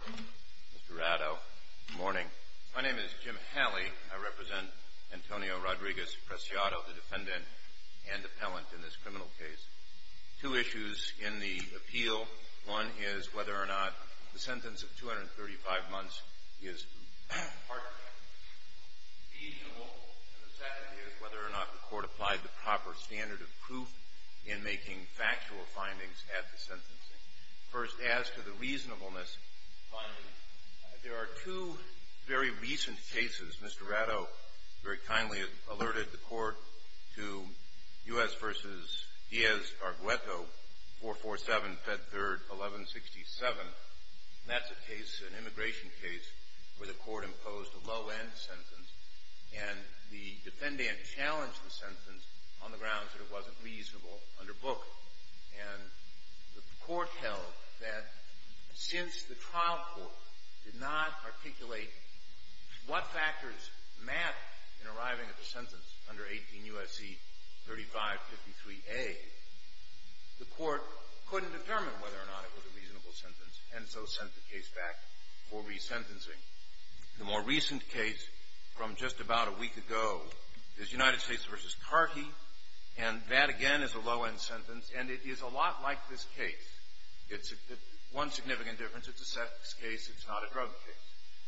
Mr. Rado, good morning. My name is Jim Halley. I represent Antonio Rodriguez-Preciado, the defendant and appellant in this criminal case. Two issues in the appeal. One is whether or not the sentence of 235 months is reasonable. And the second is whether or not the court applied the proper standard of proof in making factual findings at the sentencing. First, as to the reasonableness finding, there are two very recent cases. Mr. Rado very kindly alerted the court to U.S. v. Diaz-Argueto, 447 Fed 3rd, 1167. And that's a case, an immigration case, where the court imposed a low-end sentence, and the defendant challenged the sentence on the grounds that it wasn't reasonable under book. And the court held that since the trial court did not articulate what factors mattered in arriving at the sentence under 18 U.S.C. 3553A, the court couldn't determine whether or not it was a reasonable sentence, and so sent the case back for resentencing. The more recent case from just about a week ago is United States v. Carty, and that, again, is a low-end sentence, and it is a lot like this case. It's one significant difference. It's a sex case. It's not a drug case.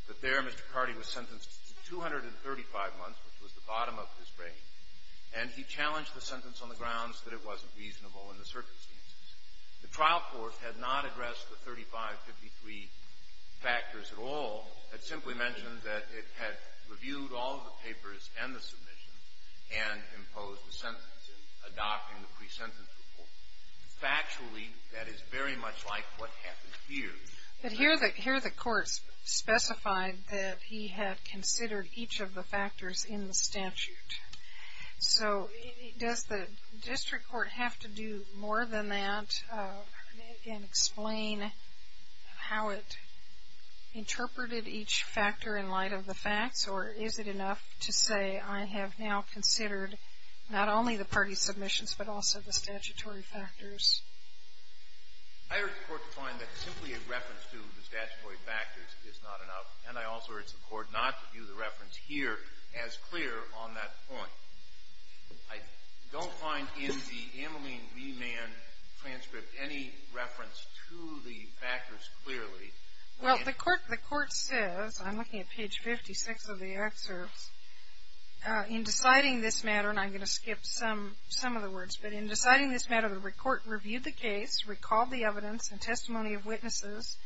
But there, Mr. Carty was sentenced to 235 months, which was the bottom of his range, and he challenged the sentence on the grounds that it wasn't reasonable in the circumstances. The trial court had not addressed the 3553 factors at all. It simply mentioned that it had reviewed all of the papers and the submission and imposed the sentence in adopting the presentence report. Factually, that is very much like what happened here. But here the court specified that he had considered each of the factors in the statute. So does the district court have to do more than that and explain how it interpreted each factor in light of the facts, or is it enough to say I have now considered not only the party submissions, but also the statutory factors? I urge the court to find that simply a reference to the statutory factors is not enough, and I also urge the court not to view the reference here as clear on that point. I don't find in the Ameline V. Mann transcript any reference to the factors clearly. Well, the court says, I'm looking at page 56 of the excerpt, in deciding this matter, and I'm going to skip some of the words, but in deciding this matter, the court reviewed the case, recalled the evidence and testimony of witnesses,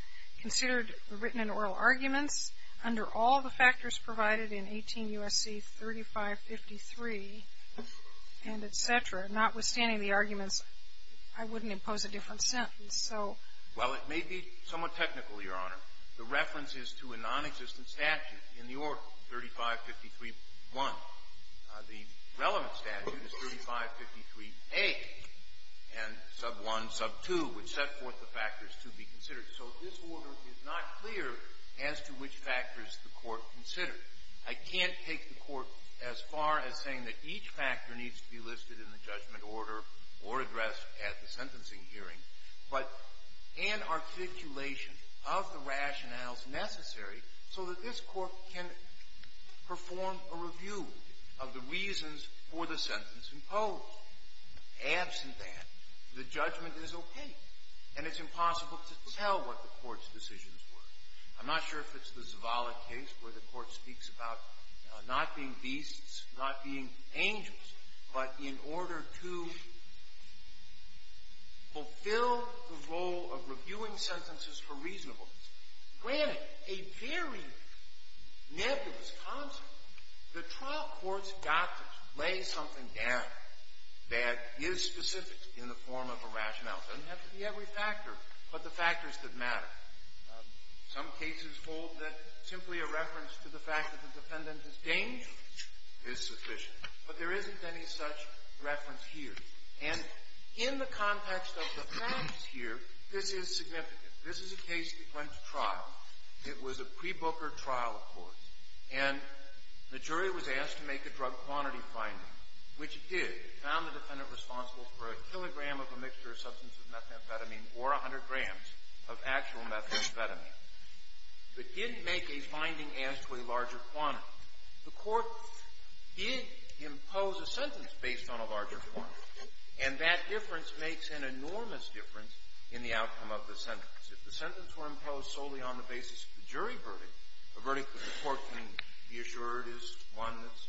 considered the written and oral arguments under all the factors provided in 18 U.S.C. 3553 and et cetera. Notwithstanding the arguments, I wouldn't impose a different sentence, so. Well, it may be somewhat technical, Your Honor. The reference is to a nonexistent statute in the order 3553.1. The relevant statute is 3553.8 and sub 1, sub 2, which set forth the factors to be considered. So this order is not clear as to which factors the court considered. I can't take the court as far as saying that each factor needs to be listed in the judgment order or addressed at the sentencing hearing, but an articulation of the rationales necessary so that this court can perform a review of the reasons for the sentence imposed. Absent that, the judgment is opaque, and it's impossible to tell whether the court's decisions were. I'm not sure if it's the Zavala case where the court speaks about not being beasts, not being angels, but in order to fulfill the role of reviewing sentences for reasonableness. Granted, a very nebulous concept. The trial court's doctrine lays something down that is specific in the form of a rationale. It doesn't have to be every factor, but the factors that matter. Some cases hold that simply a reference to the fact that the defendant is dangerous is sufficient, but there isn't any such reference here. And in the context of the facts here, this is significant. This is a case that went to trial. It was a pre-Booker trial court, and the jury was asked to make a drug quantity finding, which it did. It found the defendant responsible for a kilogram of a mixture of substance of methamphetamine or 100 grams of actual methamphetamine, but didn't make a finding as to a larger quantity. The court did impose a sentence based on a larger quantity, and that difference makes an enormous difference in the outcome of the sentence. If the sentence were imposed solely on the basis of the jury verdict, the verdict that the court can be assured is one that's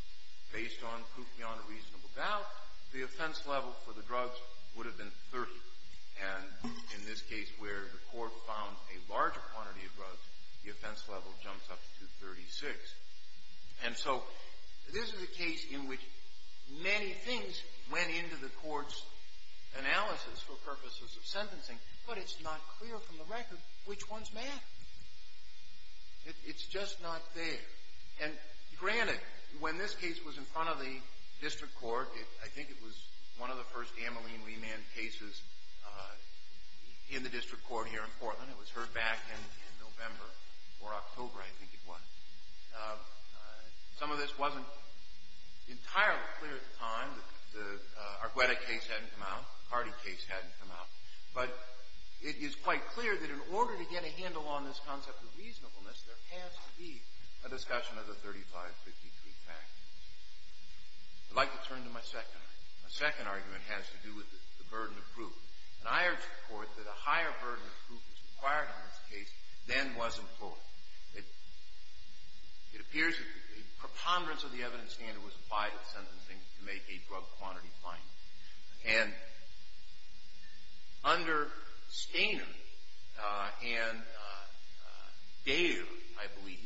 based on proof beyond a reasonable doubt, the offense level for the drugs would have been 30. And in this case where the court found a larger quantity of drugs, the offense level jumps up to 36. And so this is a case in which many things went into the court's analysis for purposes of sentencing, but it's not clear from the record which ones matter. It's just not there. And granted, when this case was in front of the district court, I think it was one of the first amyline remand cases in the district court here in Portland. It was heard back in November or October, I think it was. Some of this wasn't entirely clear at the time. The Argueta case hadn't come out. The Cardi case hadn't come out. But it is quite clear that in order to get a handle on this concept of reasonableness, there has to be a discussion of the 35, 53 factors. I'd like to turn to my second argument. My second argument has to do with the burden of proof. And I urge the court that a higher burden of proof is required on this case than was employed. It appears that a preponderance of the evidence standard was applied at sentencing to make a drug quantity finding. And under Skanen and Daly, I believe,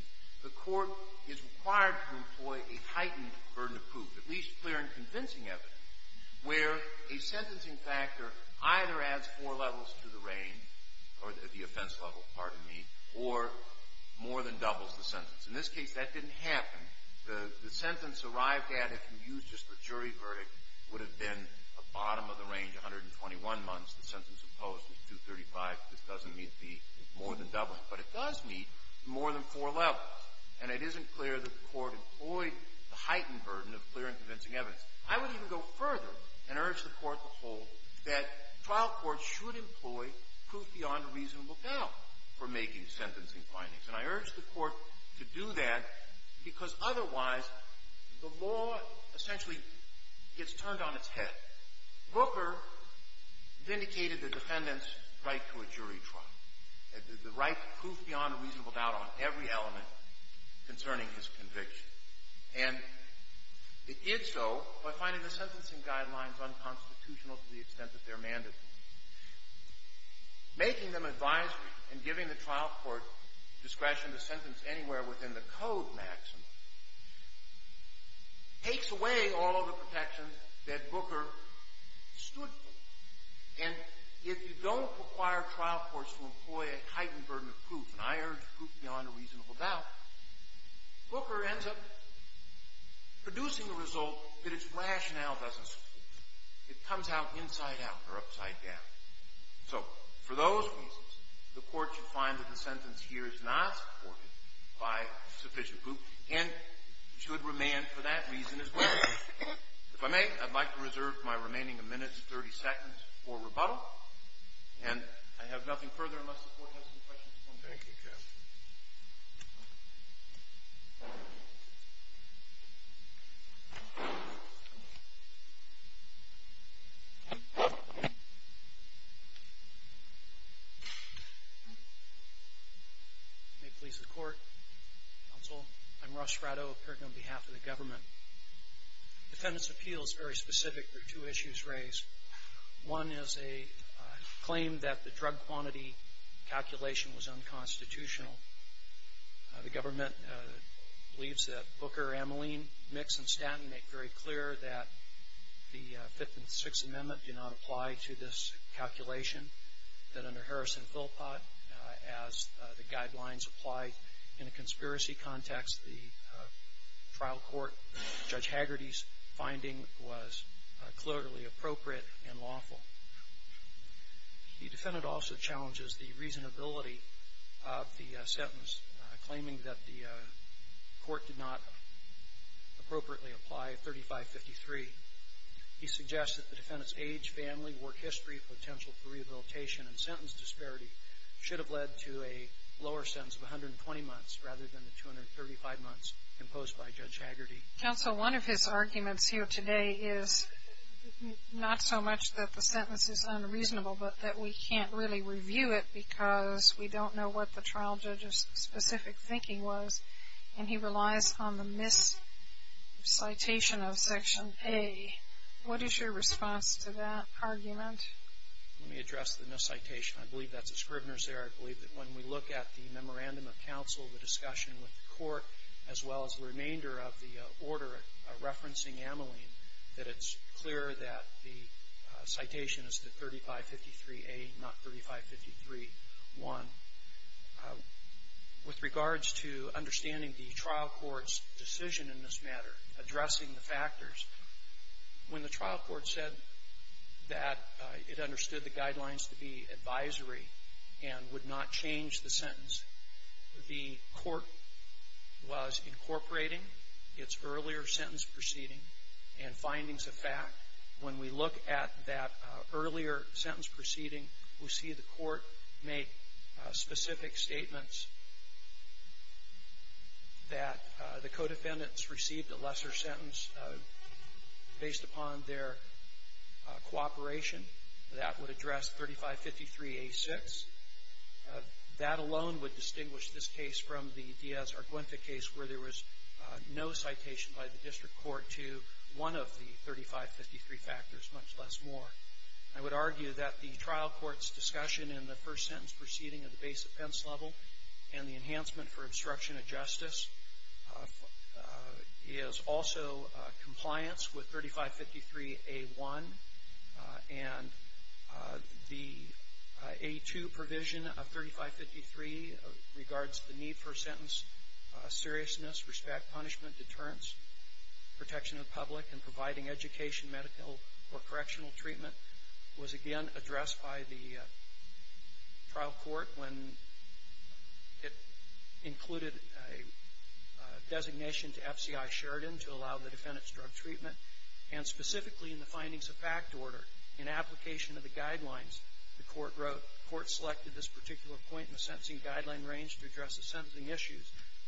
the court is required to employ a heightened burden of proof, at least clear and convincing evidence, where a sentencing factor either adds four levels to the range, or at the offense level, pardon me, or more than doubles the sentence. In this case, that didn't happen. The sentence arrived at, if you used just the jury verdict, would have been a bottom of the range, 121 months. The sentence imposed was 235. This doesn't meet the more than doubling. But it does meet more than four levels. And it isn't clear that the court employed the heightened burden of clear and convincing evidence. I would even go further and urge the court to hold that trial courts should employ proof beyond a reasonable doubt for making sentencing findings. And I urge the court to do that because, otherwise, the law essentially gets turned on its head. Booker vindicated the defendant's right to a jury trial, the right to proof beyond a reasonable doubt on every element concerning his conviction. And it did so by finding the sentencing guidelines unconstitutional to the extent that they're mandatory. Making them advisory and giving the trial court discretion to sentence anywhere within the code maxima takes away all of the protection that Booker stood for. And if you don't require trial courts to employ a heightened burden of proof, and I urge proof beyond a reasonable doubt, Booker ends up producing a result that its rationale doesn't support. It comes out inside out or upside down. So for those reasons, the court should find that the sentence here is not supported by sufficient proof and should remand for that reason as well. If I may, I'd like to reserve my remaining minutes, 30 seconds, for rebuttal. And I have nothing further unless the court has some questions. Thank you, counsel. May it please the court, counsel. I'm Russ Fratto, appearing on behalf of the government. The defendant's appeal is very specific. There are two issues raised. One is a claim that the drug quantity calculation was unconstitutional. The government believes that Booker, Amoline, Mix, and Stanton make very clear that the Fifth and Sixth Amendment do not apply to this calculation. That under Harrison-Philpott, as the guidelines apply in a conspiracy context, the trial court, Judge Hagerty's finding was clearly appropriate and lawful. The defendant also challenges the reasonability of the sentence, claiming that the court did not appropriately apply 3553. He suggests that the defendant's age, family, work history, potential for rehabilitation, and sentence disparity should have led to a lower sentence of 120 months rather than 235 months imposed by Judge Hagerty. Counsel, one of his arguments here today is not so much that the sentence is unreasonable, but that we can't really review it because we don't know what the trial judge's specific thinking was, and he relies on the miscitation of Section A. What is your response to that argument? Let me address the miscitation. I believe that's a Scrivener's error. I believe that when we look at the memorandum of counsel, the discussion with the court, as well as the remainder of the order referencing Ameline, that it's clear that the citation is the 3553A, not 3553.1. With regards to understanding the trial court's decision in this matter, addressing the factors, when the trial court said that it understood the guidelines to be advisory and would not change the sentence, the court was incorporating its earlier sentence proceeding and findings of fact. When we look at that earlier sentence proceeding, we see the court make specific statements that the co-defendants received a lesser sentence based upon their cooperation. That would address 3553A6. That alone would distinguish this case from the Diaz-Argüenza case where there was no citation by the district court to one of the 3553 factors, much less more. I would argue that the trial court's discussion in the first sentence proceeding of the base defense level and the enhancement for obstruction of justice is also compliance with 3553A1. And the A2 provision of 3553 regards the need for sentence seriousness, respect, punishment, deterrence, protection of the public, and providing education, medical, or correctional treatment was again addressed by the trial court when it included a designation to FCI Sheridan to allow the defendant's drug treatment. And specifically in the findings of fact order, in application of the guidelines, the court wrote, the court selected this particular point in the sentencing guideline range to address the sentencing issues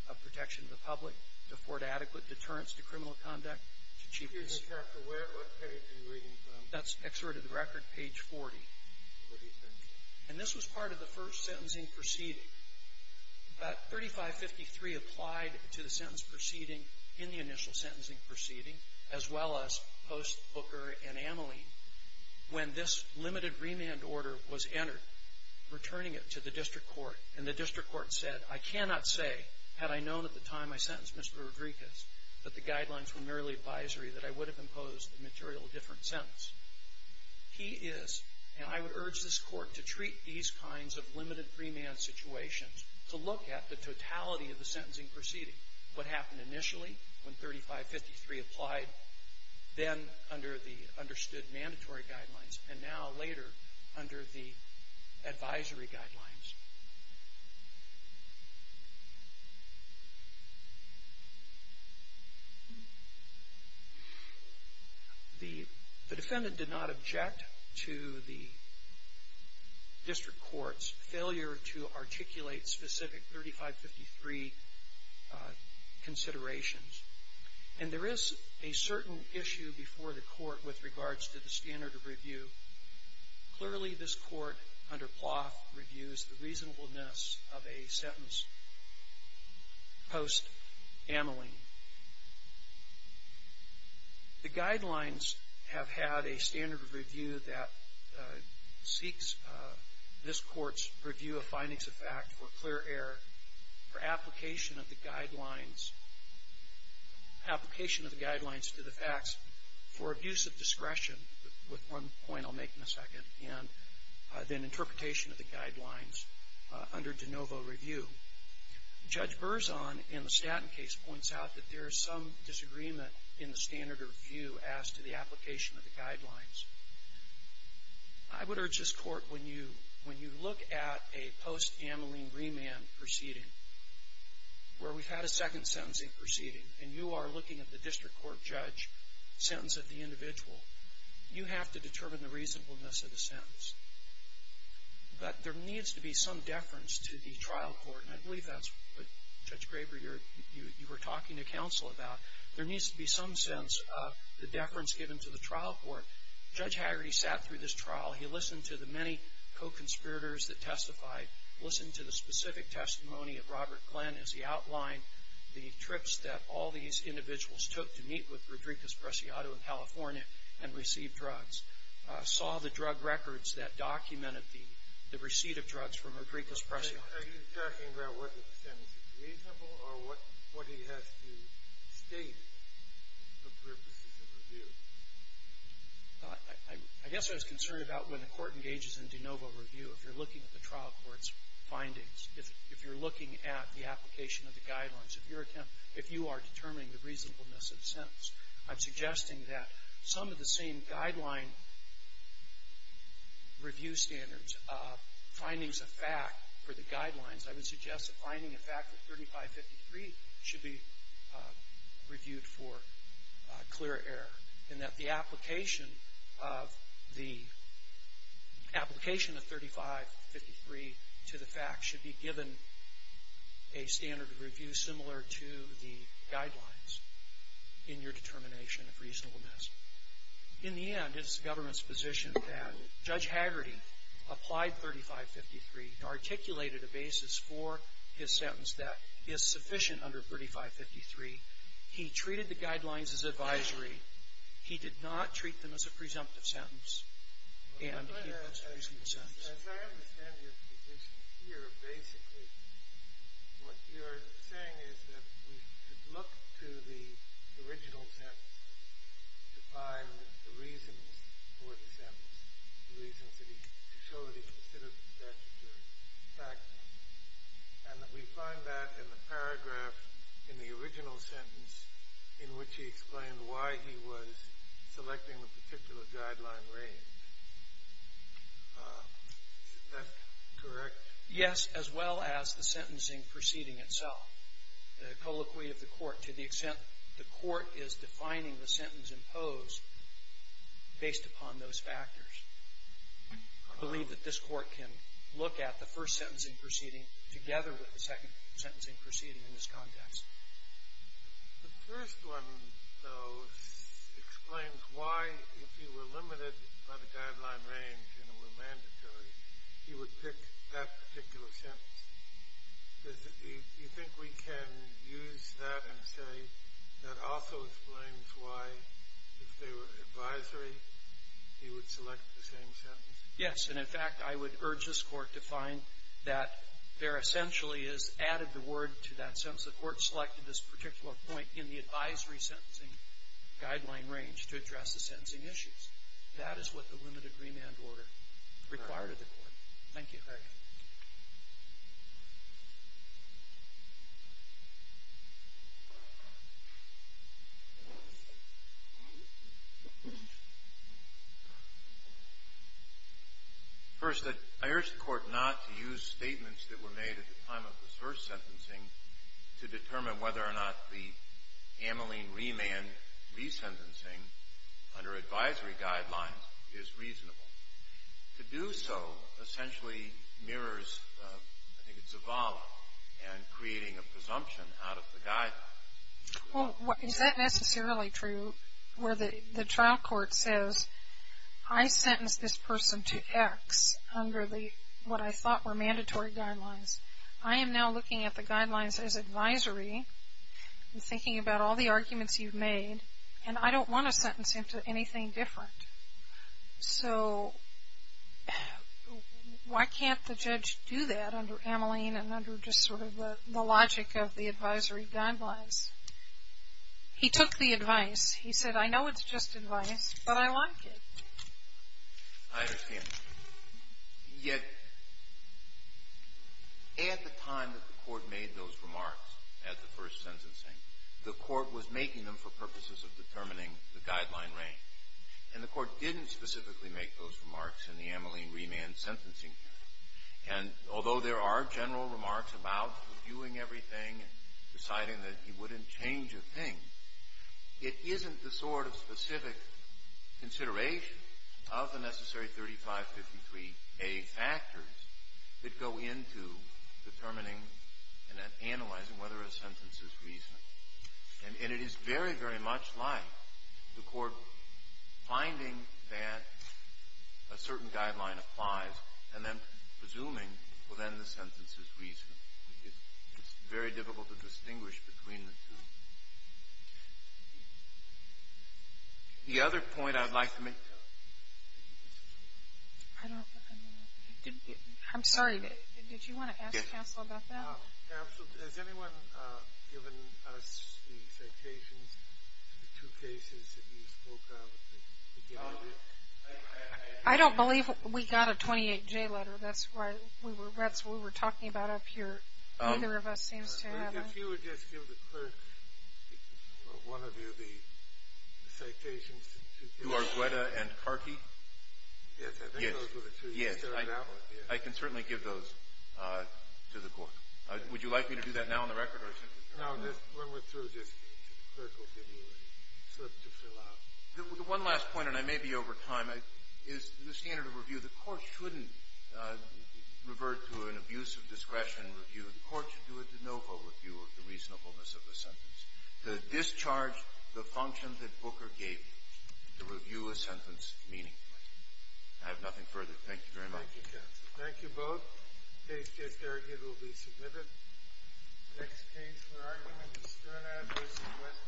of protection of the public, to afford adequate deterrence to criminal conduct, to achieve What page are you reading from? That's excerpt of the record, page 40. And this was part of the first sentencing proceeding. But 3553 applied to the sentence proceeding in the initial sentencing proceeding, as well as post Booker and Ameline, when this limited remand order was entered, returning it to the district court. And the district court said, I cannot say had I known at the time I sentenced Mr. Rodriguez that the guidelines were merely advisory, that I would have imposed a material different sentence. He is, and I would urge this court to treat these kinds of limited remand situations to look at the totality of the sentencing proceeding. What happened initially when 3553 applied, then under the understood mandatory guidelines, and now, later, under the advisory guidelines? The defendant did not object to the district court's failure to articulate specific 3553 considerations. And there is a certain issue before the court with regards to the standard of review. Clearly, this court, under Plough, reviews the reasonableness of a sentence post Ameline. The guidelines have had a standard of review that seeks this court's review of findings of fact for clear error, for application of the guidelines to the facts, for abuse of discretion, with one point I'll make in a second, and then interpretation of the guidelines under de novo review. Judge Berzon, in the Stanton case, points out that there is some disagreement in the standard of I would urge this court, when you look at a post-Ameline remand proceeding, where we've had a second sentencing proceeding, and you are looking at the district court judge's sentence of the individual, you have to determine the reasonableness of the sentence. But there needs to be some deference to the trial court, and I believe that's what, Judge Graber, you were talking to counsel about. There needs to be some sense of the deference given to the trial court. Judge Hagerty sat through this trial. He listened to the many co-conspirators that testified, listened to the specific testimony of Robert Glenn as he outlined the trips that all these individuals took to meet with Rodriguez-Preciado in California and receive drugs, saw the drug records that documented the receipt of drugs from Rodriguez-Preciado. Are you talking about whether the sentence is reasonable or what he has to state for purposes of review? I guess what I was concerned about when the court engages in de novo review, if you're looking at the trial court's findings, if you're looking at the application of the guidelines, if you are determining the reasonableness of the sentence, I'm suggesting that some of the same guideline review standards, findings of fact for the guidelines, I would suggest that finding a fact of 3553 should be reviewed for clear error, and that the application of the application of 3553 to the fact should be given a standard of review similar to the guidelines in your determination of reasonableness. In the end, it's the government's position that Judge Haggerty applied 3553 and articulated a basis for his sentence that is sufficient under 3553. He treated the guidelines as advisory. He did not treat them as a presumptive sentence, and he wants a reasonable sentence. As I understand your position here, basically what you're saying is that we should look to the original sentence to find the reasons for the sentence, the reasons to show that he considered the statutory fact, and that we find that in the paragraph in the original sentence in which he explained why he was selecting a particular guideline range. Is that correct? Yes, as well as the sentencing proceeding itself. The colloquy of the court to the extent the court is defining the sentence imposed based upon those factors. I believe that this court can look at the first sentencing proceeding together with the second sentencing proceeding in this context. The first one, though, explains why, if he were limited by the guideline range and it were mandatory, he would pick that particular sentence. Do you think we can use that and say that also explains why, if they were advisory, he would select the same sentence? Yes, and in fact, I would urge this court to find that there essentially is added the word to that sentence. The court selected this particular point in the advisory sentencing guideline range to address the sentencing issues. That is what the limited remand order required of the court. Thank you. First, I urge the court not to use statements that were made at the time of the first sentencing to determine whether or not the amylene remand resentencing under advisory guidelines is reasonable. To do so essentially mirrors, I think it's a volley, and creating a presumption out of the guideline. Well, is that necessarily true where the trial court says, I sentenced this person to X under what I thought were mandatory guidelines. I am now looking at the guidelines as advisory and thinking about all the arguments you've made, and I don't want to sentence him to anything different. So, why can't the judge do that under amylene and under just sort of the logic of the advisory guidelines? He took the advice. He said, I know it's just advice, but I like it. I understand. Yet, at the time that the court made those remarks at the first sentencing, the court was making them for purposes of determining the guideline range. And the court didn't specifically make those remarks in the amylene remand sentencing. And although there are general remarks about reviewing everything and deciding that he wouldn't change a thing, it isn't the sort of specific consideration of the necessary 3553A factors that go into determining and analyzing whether a sentence is reasonable. And it is very, very much like the court finding that a certain guideline applies and then presuming, well, then the sentence is reasonable. It's very difficult to distinguish between the two. The other point I'd like to make... I'm sorry. Did you want to ask counsel about that? Counsel, has anyone given us the citations to the two cases that you spoke of? I don't believe we got a 28J letter. That's what we were talking about up here. Neither of us seems to have one. If you would just give the clerk, one of you, the citations to the two cases. To Argueta and Karky? Yes, I think those were the two. Yes, I can certainly give those to the court. Would you like me to do that now on the record? No, when we're through, just the clerk will give you a slip to fill out. One last point, and I may be over time, is the standard of review. The court shouldn't revert to an abuse of discretion review. The court should do a de novo review of the reasonableness of the sentence, to discharge the function that Booker gave, to review a sentence meaningfully. I have nothing further. Thank you very much. Thank you, counsel. Thank you both. The case against Argueta will be submitted. The next case we're arguing is Stern Adversity West Publishing Company.